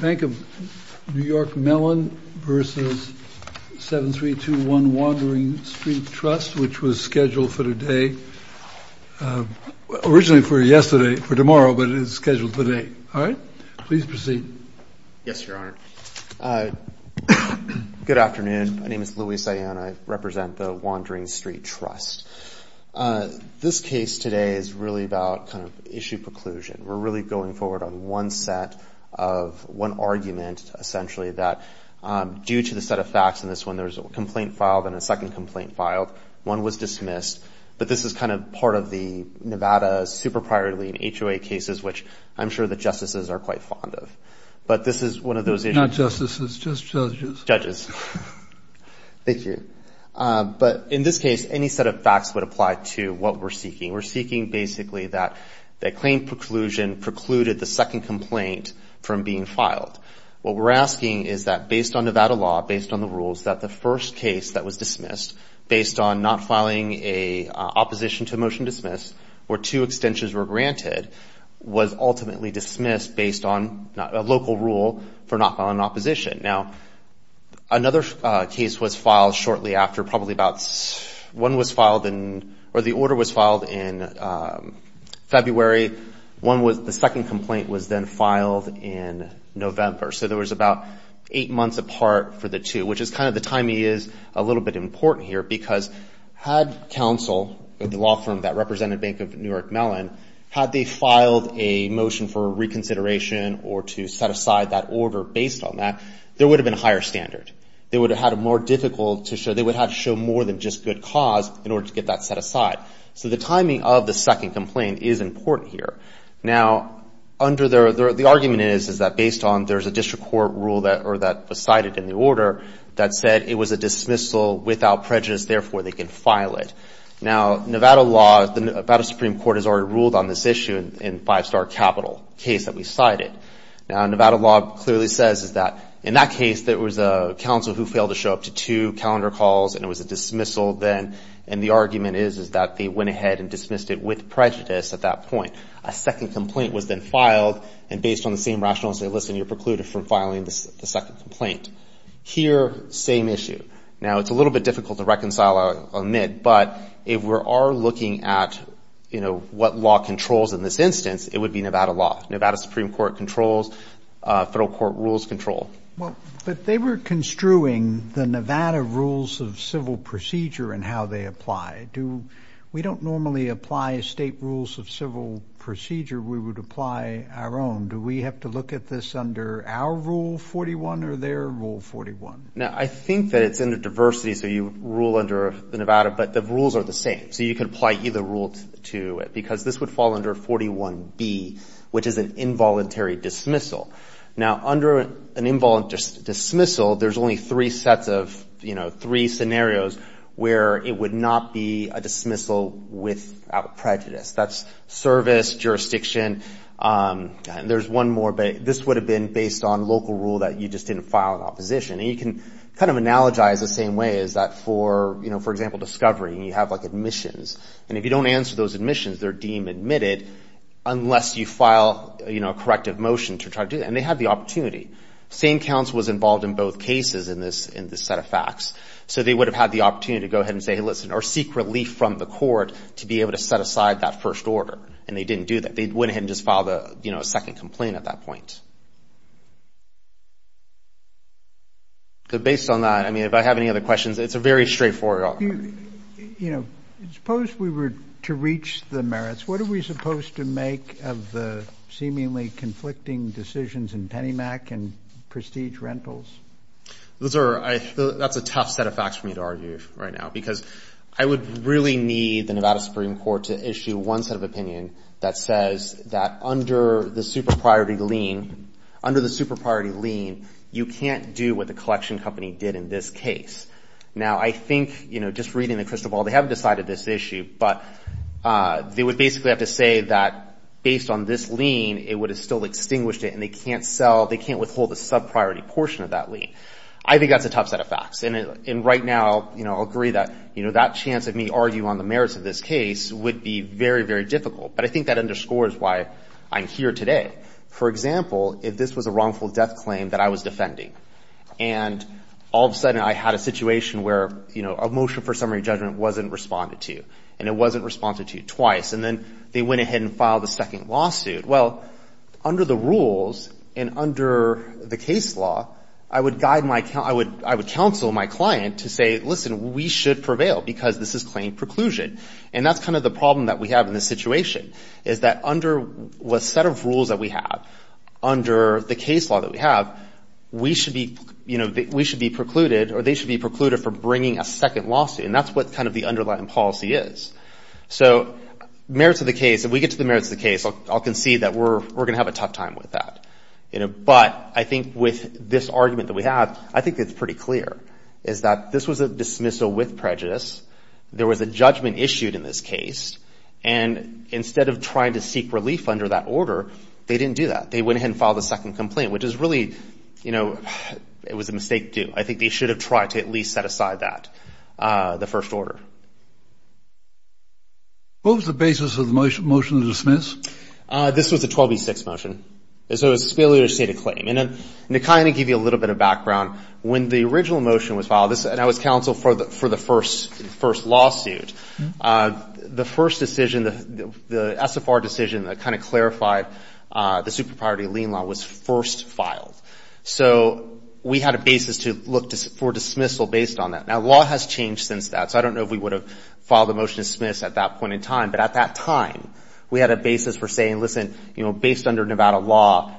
Bank of New York Mellon v. 7321 Wandering Street Trust, which was scheduled for today. Originally for yesterday, for tomorrow, but it is scheduled for today. All right. Please proceed. Yes, Your Honor. Good afternoon. My name is Luis Ayanna. I represent the Wandering Street Trust. This case today is really about issue preclusion. We're really going forward on one set of one argument, essentially, that due to the set of facts in this one, there's a complaint filed and a second complaint filed. One was dismissed, but this is kind of part of the Nevada super priority in HOA cases, which I'm sure the justices are quite fond of. But this is one of those issues. Not justices, just judges. Judges. Thank you. But in this case, any set of facts would apply to what we're seeking. We're seeking basically that the claim preclusion precluded the second complaint from being filed. What we're asking is that based on Nevada law, based on the rules, that the first case that was dismissed based on not filing an opposition to a motion dismissed or two extensions were granted was ultimately dismissed based on a local rule for not filing an opposition. Now, another case was filed shortly after. Probably about one was filed, or the order was filed in February. The second complaint was then filed in November. So there was about eight months apart for the two, which is kind of the timing is a little bit important here because had counsel, the law firm that represented Bank of New York Mellon, had they filed a motion for reconsideration or to set aside that order based on that, there would have been a higher standard. They would have had a more difficult to show. They would have had to show more than just good cause in order to get that set aside. So the timing of the second complaint is important here. Now, under the argument is that based on there's a district court rule that was cited in the order that said it was a dismissal without prejudice, therefore they can file it. Now, Nevada law, the Nevada Supreme Court has already ruled on this issue in Five Star Capital, a case that we cited. Now, Nevada law clearly says that in that case there was a counsel who failed to show up to two calendar calls and it was a dismissal then, and the argument is that they went ahead and dismissed it with prejudice at that point. A second complaint was then filed, and based on the same rationale, they say, listen, you're precluded from filing the second complaint. Here, same issue. Now, it's a little bit difficult to reconcile or admit, but if we are looking at, you know, what law controls in this instance, it would be Nevada law. Nevada Supreme Court controls. Federal court rules control. But they were construing the Nevada rules of civil procedure and how they apply. We don't normally apply state rules of civil procedure. We would apply our own. Do we have to look at this under our Rule 41 or their Rule 41? Now, I think that it's under diversity, so you rule under the Nevada, but the rules are the same. So you could apply either rule to it because this would fall under 41B, which is an involuntary dismissal. Now, under an involuntary dismissal, there's only three sets of, you know, three scenarios where it would not be a dismissal without prejudice. That's service, jurisdiction, and there's one more. But this would have been based on local rule that you just didn't file in opposition. And you can kind of analogize the same way as that for, you know, for example, discovery, and you have, like, admissions. And if you don't answer those admissions, they're deemed admitted unless you file, you know, a corrective motion to try to do that. And they had the opportunity. Same counsel was involved in both cases in this set of facts. So they would have had the opportunity to go ahead and say, hey, listen, or seek relief from the court to be able to set aside that first order. And they didn't do that. They went ahead and just filed, you know, a second complaint at that point. So based on that, I mean, if I have any other questions, it's a very straightforward argument. You know, suppose we were to reach the merits. What are we supposed to make of the seemingly conflicting decisions in PennyMAC and Prestige Rentals? Those are – that's a tough set of facts for me to argue right now because I would really need the Nevada Supreme Court to issue one set of opinion that says that under the super-priority lien, under the super-priority lien, you can't do what the collection company did in this case. Now, I think, you know, just reading the crystal ball, they haven't decided this issue, but they would basically have to say that based on this lien, it would have still extinguished it, and they can't sell – they can't withhold the sub-priority portion of that lien. I think that's a tough set of facts. And right now, you know, I'll agree that, you know, that chance of me arguing on the merits of this case would be very, very difficult. But I think that underscores why I'm here today. For example, if this was a wrongful death claim that I was defending, and all of a sudden I had a situation where, you know, a motion for summary judgment wasn't responded to, and it wasn't responded to twice, and then they went ahead and filed a second lawsuit, well, under the rules and under the case law, I would guide my – I would counsel my client to say, listen, we should prevail because this is claim preclusion. And that's kind of the problem that we have in this situation, is that under what set of rules that we have, under the case law that we have, we should be, you know, we should be precluded, or they should be precluded for bringing a second lawsuit. And that's what kind of the underlying policy is. So merits of the case – if we get to the merits of the case, I'll concede that we're going to have a tough time with that. But I think with this argument that we have, I think it's pretty clear, is that this was a dismissal with prejudice. There was a judgment issued in this case. And instead of trying to seek relief under that order, they didn't do that. They went ahead and filed a second complaint, which is really, you know, it was a mistake too. I think they should have tried to at least set aside that, the first order. What was the basis of the motion to dismiss? This was a 12B6 motion. So it was a failure to state a claim. And to kind of give you a little bit of background, when the original motion was filed, and I was counsel for the first lawsuit, the first decision, the SFR decision that kind of clarified the super-priority lien law was first filed. So we had a basis to look for dismissal based on that. Now, law has changed since that. So I don't know if we would have filed a motion to dismiss at that point in time. But at that time, we had a basis for saying, listen, you know, based under Nevada law,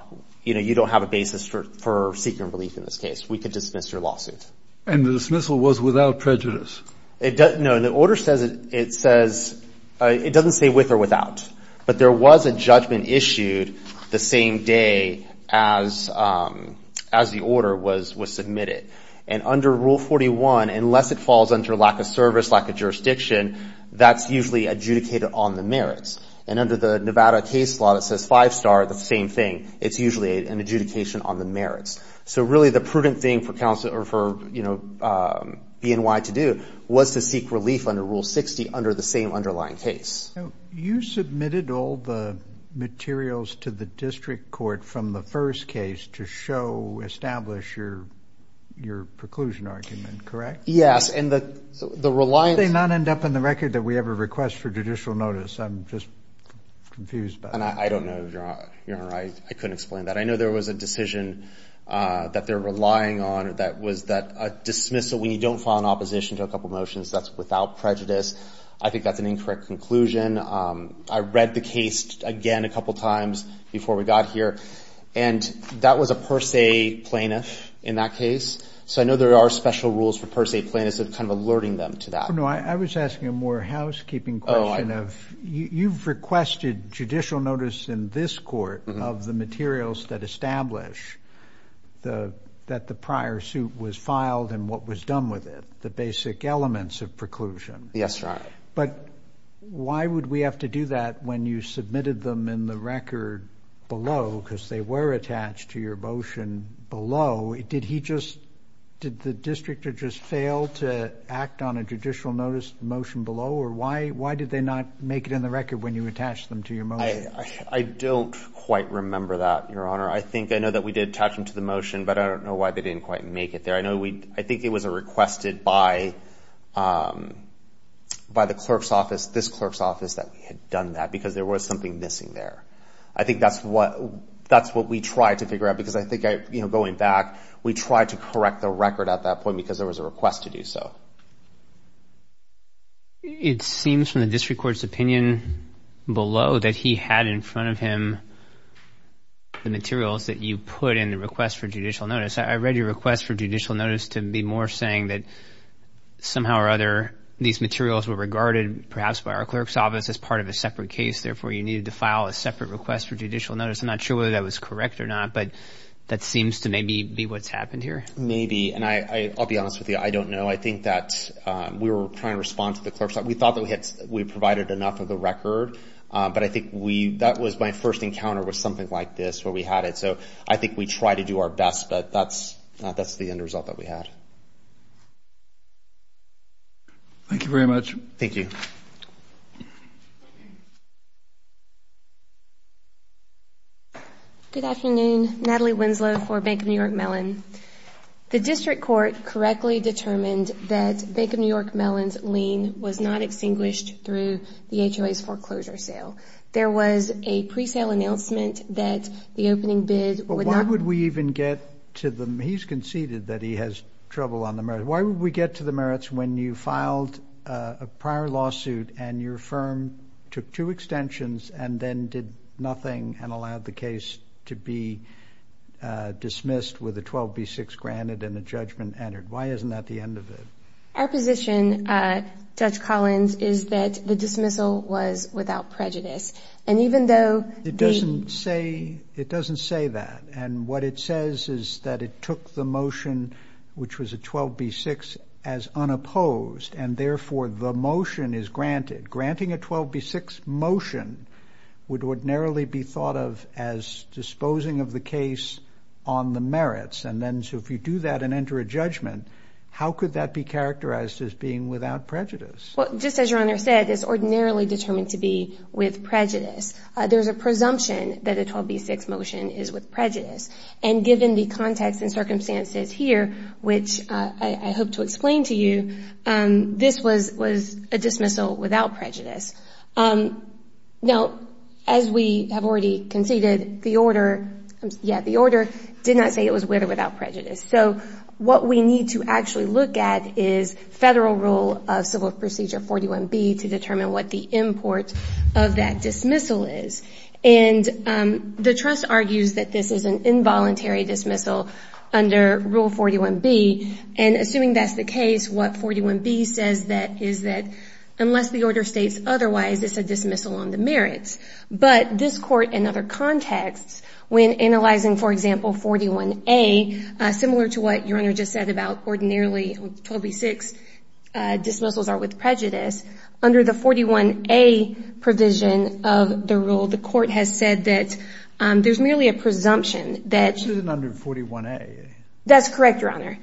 you know, you don't have a basis for seeking relief in this case. We could dismiss your lawsuit. And the dismissal was without prejudice? No. The order says it doesn't say with or without. But there was a judgment issued the same day as the order was submitted. And under Rule 41, unless it falls under lack of service, lack of jurisdiction, that's usually adjudicated on the merits. And under the Nevada case law that says five-star, the same thing. It's usually an adjudication on the merits. So really the prudent thing for counsel or for, you know, BNY to do was to seek relief under Rule 60 under the same underlying case. Now, you submitted all the materials to the district court from the first case to show, establish your preclusion argument, correct? Yes. And the reliance. Did they not end up in the record that we have a request for judicial notice? I'm just confused by that. And I don't know. You're not right. I couldn't explain that. I know there was a decision that they're relying on that was that dismissal, when you don't file an opposition to a couple motions, that's without prejudice. I think that's an incorrect conclusion. I read the case again a couple times before we got here. And that was a per se plaintiff in that case. So I know there are special rules for per se plaintiffs that are kind of alerting them to that. No, I was asking a more housekeeping question of you've requested judicial notice in this court of the materials that establish that the prior suit was filed and what was done with it, the basic elements of preclusion. Yes, Your Honor. But why would we have to do that when you submitted them in the record below? Because they were attached to your motion below. Did he just, did the district just fail to act on a judicial notice motion below? Or why did they not make it in the record when you attached them to your motion? I don't quite remember that, Your Honor. I think I know that we did attach them to the motion, but I don't know why they didn't quite make it there. I think it was requested by the clerk's office, this clerk's office, that we had done that because there was something missing there. I think that's what we tried to figure out because I think going back, we tried to correct the record at that point because there was a request to do so. It seems from the district court's opinion below that he had in front of him the materials that you put in the request for judicial notice. I read your request for judicial notice to be more saying that somehow or other these materials were regarded perhaps by our clerk's office as part of a separate case. Therefore, you needed to file a separate request for judicial notice. I'm not sure whether that was correct or not, but that seems to maybe be what's happened here. Maybe, and I'll be honest with you, I don't know. I think that we were trying to respond to the clerk's office. We thought that we provided enough of the record, but I think that was my first encounter with something like this where we had it. So I think we tried to do our best, but that's the end result that we had. Thank you very much. Thank you. Good afternoon. Natalie Winslow for Bank of New York Mellon. The district court correctly determined that Bank of New York Mellon's lien was not extinguished through the HOA's foreclosure sale. There was a pre-sale announcement that the opening bid would not be- Why would we even get to the merits? He's conceded that he has trouble on the merits. Why would we get to the merits when you filed a prior lawsuit and your firm took two extensions and then did nothing and allowed the case to be dismissed with a 12B6 granted and a judgment entered? Why isn't that the end of it? Our position, Judge Collins, is that the dismissal was without prejudice. And even though the- It doesn't say that. And what it says is that it took the motion, which was a 12B6, as unopposed, and therefore the motion is granted. Granting a 12B6 motion would ordinarily be thought of as disposing of the case on the merits. And then so if you do that and enter a judgment, how could that be characterized as being without prejudice? Well, just as Your Honor said, it's ordinarily determined to be with prejudice. There's a presumption that a 12B6 motion is with prejudice. And given the context and circumstances here, which I hope to explain to you, this was a dismissal without prejudice. Now, as we have already conceded, the order did not say it was with or without prejudice. So what we need to actually look at is Federal Rule of Civil Procedure 41B to determine what the import of that dismissal is. And the trust argues that this is an involuntary dismissal under Rule 41B. And assuming that's the case, what 41B says is that unless the order states otherwise, it's a dismissal on the merits. But this Court, in other contexts, when analyzing, for example, 41A, similar to what Your Honor just said about ordinarily 12B6 dismissals are with prejudice, under the 41A provision of the rule, the Court has said that there's merely a presumption that This isn't under 41A. That's correct, Your Honor.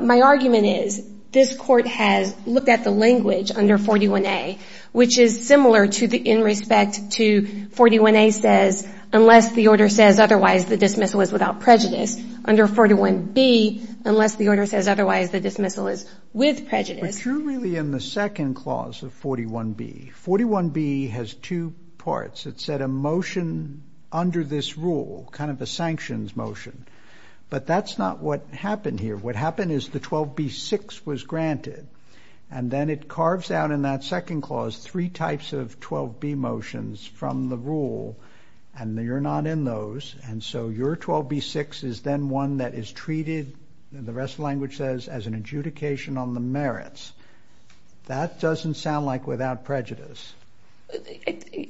My argument is this Court has looked at the language under 41A, which is similar in respect to 41A says unless the order says otherwise, the dismissal is without prejudice. Under 41B, unless the order says otherwise, the dismissal is with prejudice. But you're really in the second clause of 41B. 41B has two parts. It said a motion under this rule, kind of a sanctions motion. But that's not what happened here. What happened is the 12B6 was granted. And then it carves out in that second clause three types of 12B motions from the rule, and you're not in those. And so your 12B6 is then one that is treated, the rest of the language says, as an adjudication on the merits. That doesn't sound like without prejudice.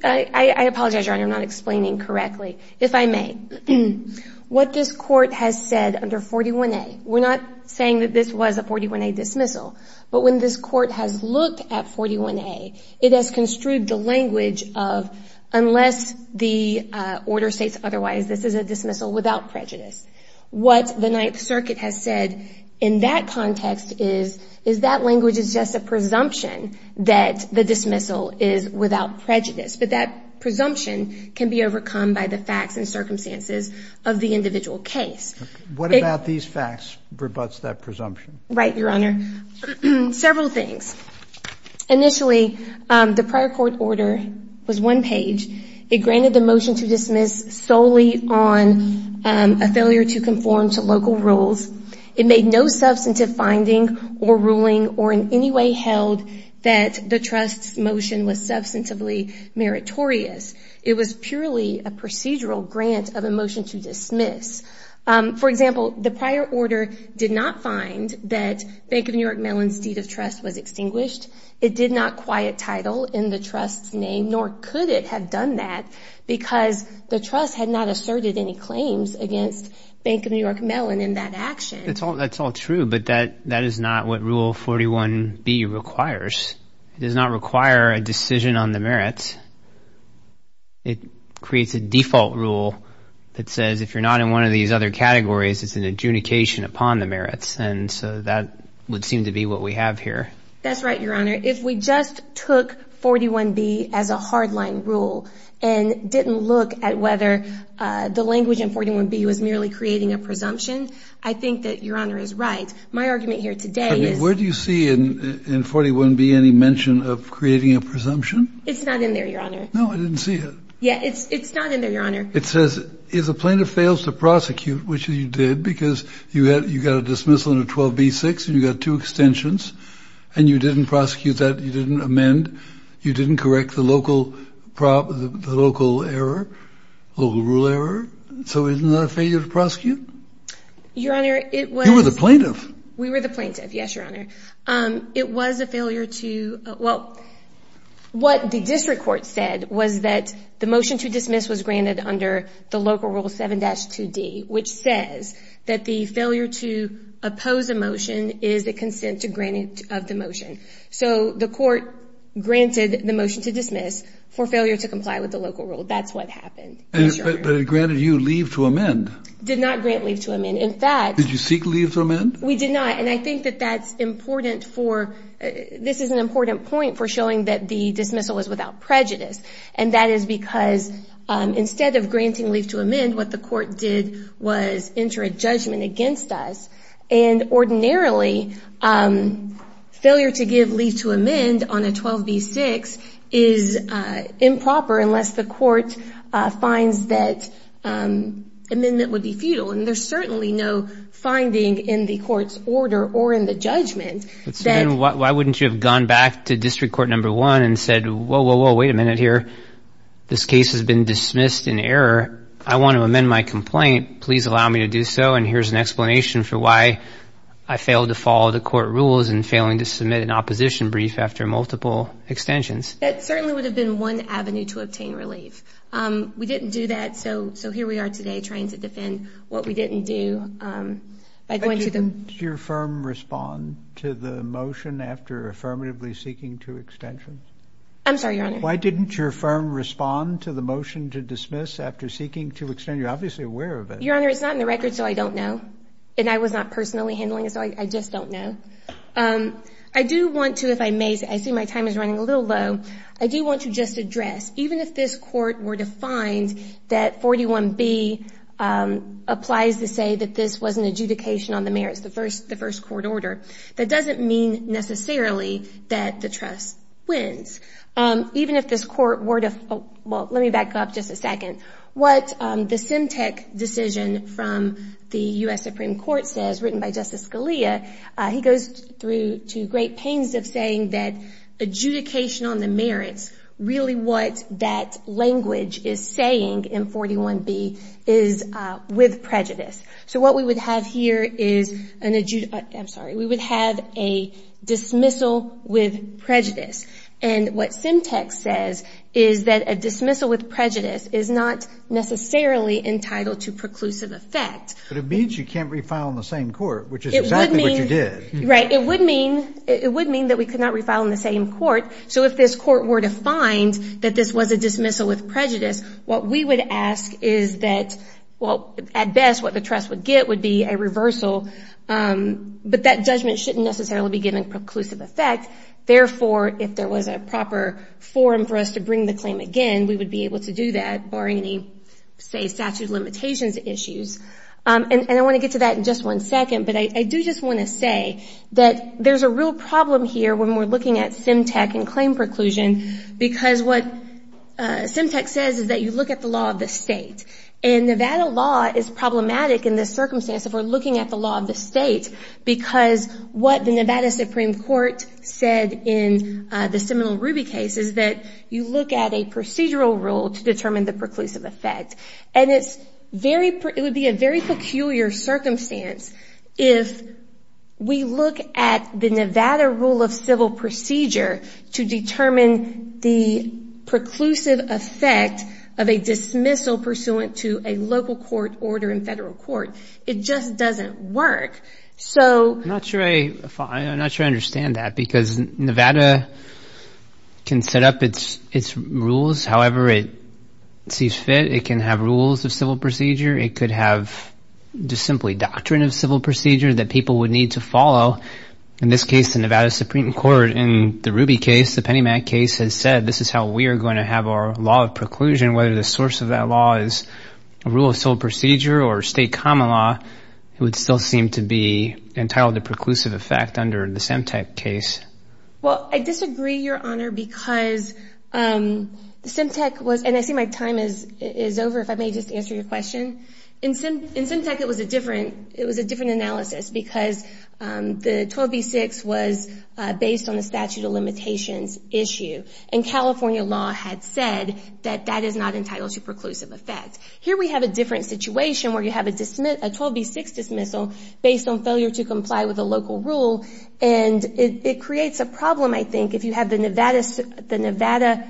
I apologize, Your Honor. I'm not explaining correctly, if I may. What this Court has said under 41A, we're not saying that this was a 41A dismissal, but when this Court has looked at 41A, it has construed the language of unless the order states otherwise, this is a dismissal without prejudice. What the Ninth Circuit has said in that context is that language is just a presumption that the dismissal is without prejudice. But that presumption can be overcome by the facts and circumstances of the individual case. What about these facts rebuts that presumption? Right, Your Honor. Several things. Initially, the prior court order was one page. It granted the motion to dismiss solely on a failure to conform to local rules. It made no substantive finding or ruling or in any way held that the trust's motion was substantively meritorious. It was purely a procedural grant of a motion to dismiss. For example, the prior order did not find that Bank of New York Mellon's deed of trust was extinguished. It did not quiet title in the trust's name, nor could it have done that, because the trust had not asserted any claims against Bank of New York Mellon in that action. That's all true, but that is not what Rule 41B requires. It does not require a decision on the merits. It creates a default rule that says if you're not in one of these other categories, it's an adjudication upon the merits. And so that would seem to be what we have here. That's right, Your Honor. If we just took 41B as a hardline rule and didn't look at whether the language in 41B was merely creating a presumption, I think that Your Honor is right. My argument here today is – Where do you see in 41B any mention of creating a presumption? It's not in there, Your Honor. No, I didn't see it. Yeah, it's not in there, Your Honor. It says if the plaintiff fails to prosecute, which he did because you got a dismissal under 12B-6 and you got two extensions, and you didn't prosecute that, you didn't amend, you didn't correct the local error, local rule error, so isn't that a failure to prosecute? Your Honor, it was – You were the plaintiff. We were the plaintiff, yes, Your Honor. It was a failure to – well, what the district court said was that the motion to dismiss was granted under the local rule 7-2D, which says that the failure to oppose a motion is a consent to granting of the motion. So the court granted the motion to dismiss for failure to comply with the local rule. That's what happened, yes, Your Honor. But it granted you leave to amend. Did not grant leave to amend. In fact – Did you seek leave to amend? We did not, and I think that that's important for – this is an important point for showing that the dismissal was without prejudice, and that is because instead of granting leave to amend, what the court did was enter a judgment against us, and ordinarily failure to give leave to amend on a 12B-6 is improper unless the court finds that amendment would be futile. And there's certainly no finding in the court's order or in the judgment that – Why wouldn't you have gone back to district court number one and said, whoa, whoa, whoa, wait a minute here. This case has been dismissed in error. I want to amend my complaint. Please allow me to do so, and here's an explanation for why I failed to follow the court rules in failing to submit an opposition brief after multiple extensions. That certainly would have been one avenue to obtain relief. We didn't do that, so here we are today trying to defend what we didn't do by going to the – Why didn't your firm respond to the motion after affirmatively seeking two extensions? I'm sorry, Your Honor. Why didn't your firm respond to the motion to dismiss after seeking two extensions? You're obviously aware of it. Your Honor, it's not in the record, so I don't know, and I was not personally handling it, so I just don't know. I do want to, if I may – I see my time is running a little low. I do want to just address, even if this court were to find that 41B applies to say that this was an adjudication on the merits, the first court order, that doesn't mean necessarily that the trust wins. Even if this court were to – well, let me back up just a second. What the SEMTEC decision from the U.S. Supreme Court says, written by Justice Scalia, he goes through to great pains of saying that adjudication on the merits, really what that language is saying in 41B is with prejudice. So what we would have here is an – I'm sorry. We would have a dismissal with prejudice, and what SEMTEC says is that a dismissal with prejudice is not necessarily entitled to preclusive effect. But it means you can't refile in the same court, which is exactly what you did. Right. It would mean that we could not refile in the same court. So if this court were to find that this was a dismissal with prejudice, what we would ask is that – well, at best, what the trust would get would be a reversal, but that judgment shouldn't necessarily be given preclusive effect. Therefore, if there was a proper forum for us to bring the claim again, we would be able to do that barring any, say, statute of limitations issues. And I want to get to that in just one second, but I do just want to say that there's a real problem here when we're looking at SEMTEC and claim preclusion because what SEMTEC says is that you look at the law of the state. And Nevada law is problematic in this circumstance if we're looking at the law of the state because what the Nevada Supreme Court said in the Seminole Ruby case is that you look at a procedural rule to determine the preclusive effect. And it would be a very peculiar circumstance if we look at the Nevada rule of civil procedure to determine the preclusive effect of a dismissal pursuant to a local court order in federal court. It just doesn't work. I'm not sure I understand that because Nevada can set up its rules however it sees fit. It can have rules of civil procedure. It could have just simply doctrine of civil procedure that people would need to follow. In this case, the Nevada Supreme Court in the Ruby case, the Penny Mack case, has said this is how we are going to have our law of preclusion, and whether the source of that law is a rule of civil procedure or state common law, it would still seem to be entitled to preclusive effect under the SEMTEC case. Well, I disagree, Your Honor, because SEMTEC was, and I see my time is over if I may just answer your question. In SEMTEC, it was a different analysis because the 12b-6 was based on the statute of limitations issue. And California law had said that that is not entitled to preclusive effect. Here we have a different situation where you have a 12b-6 dismissal based on failure to comply with a local rule, and it creates a problem, I think, if you have the Nevada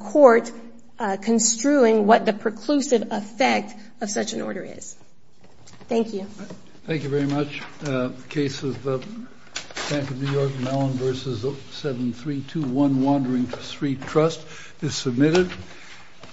court construing what the preclusive effect of such an order is. Thank you. Thank you very much. The case of the Bank of New York Mellon v. 7321 Wandering Street Trust is submitted.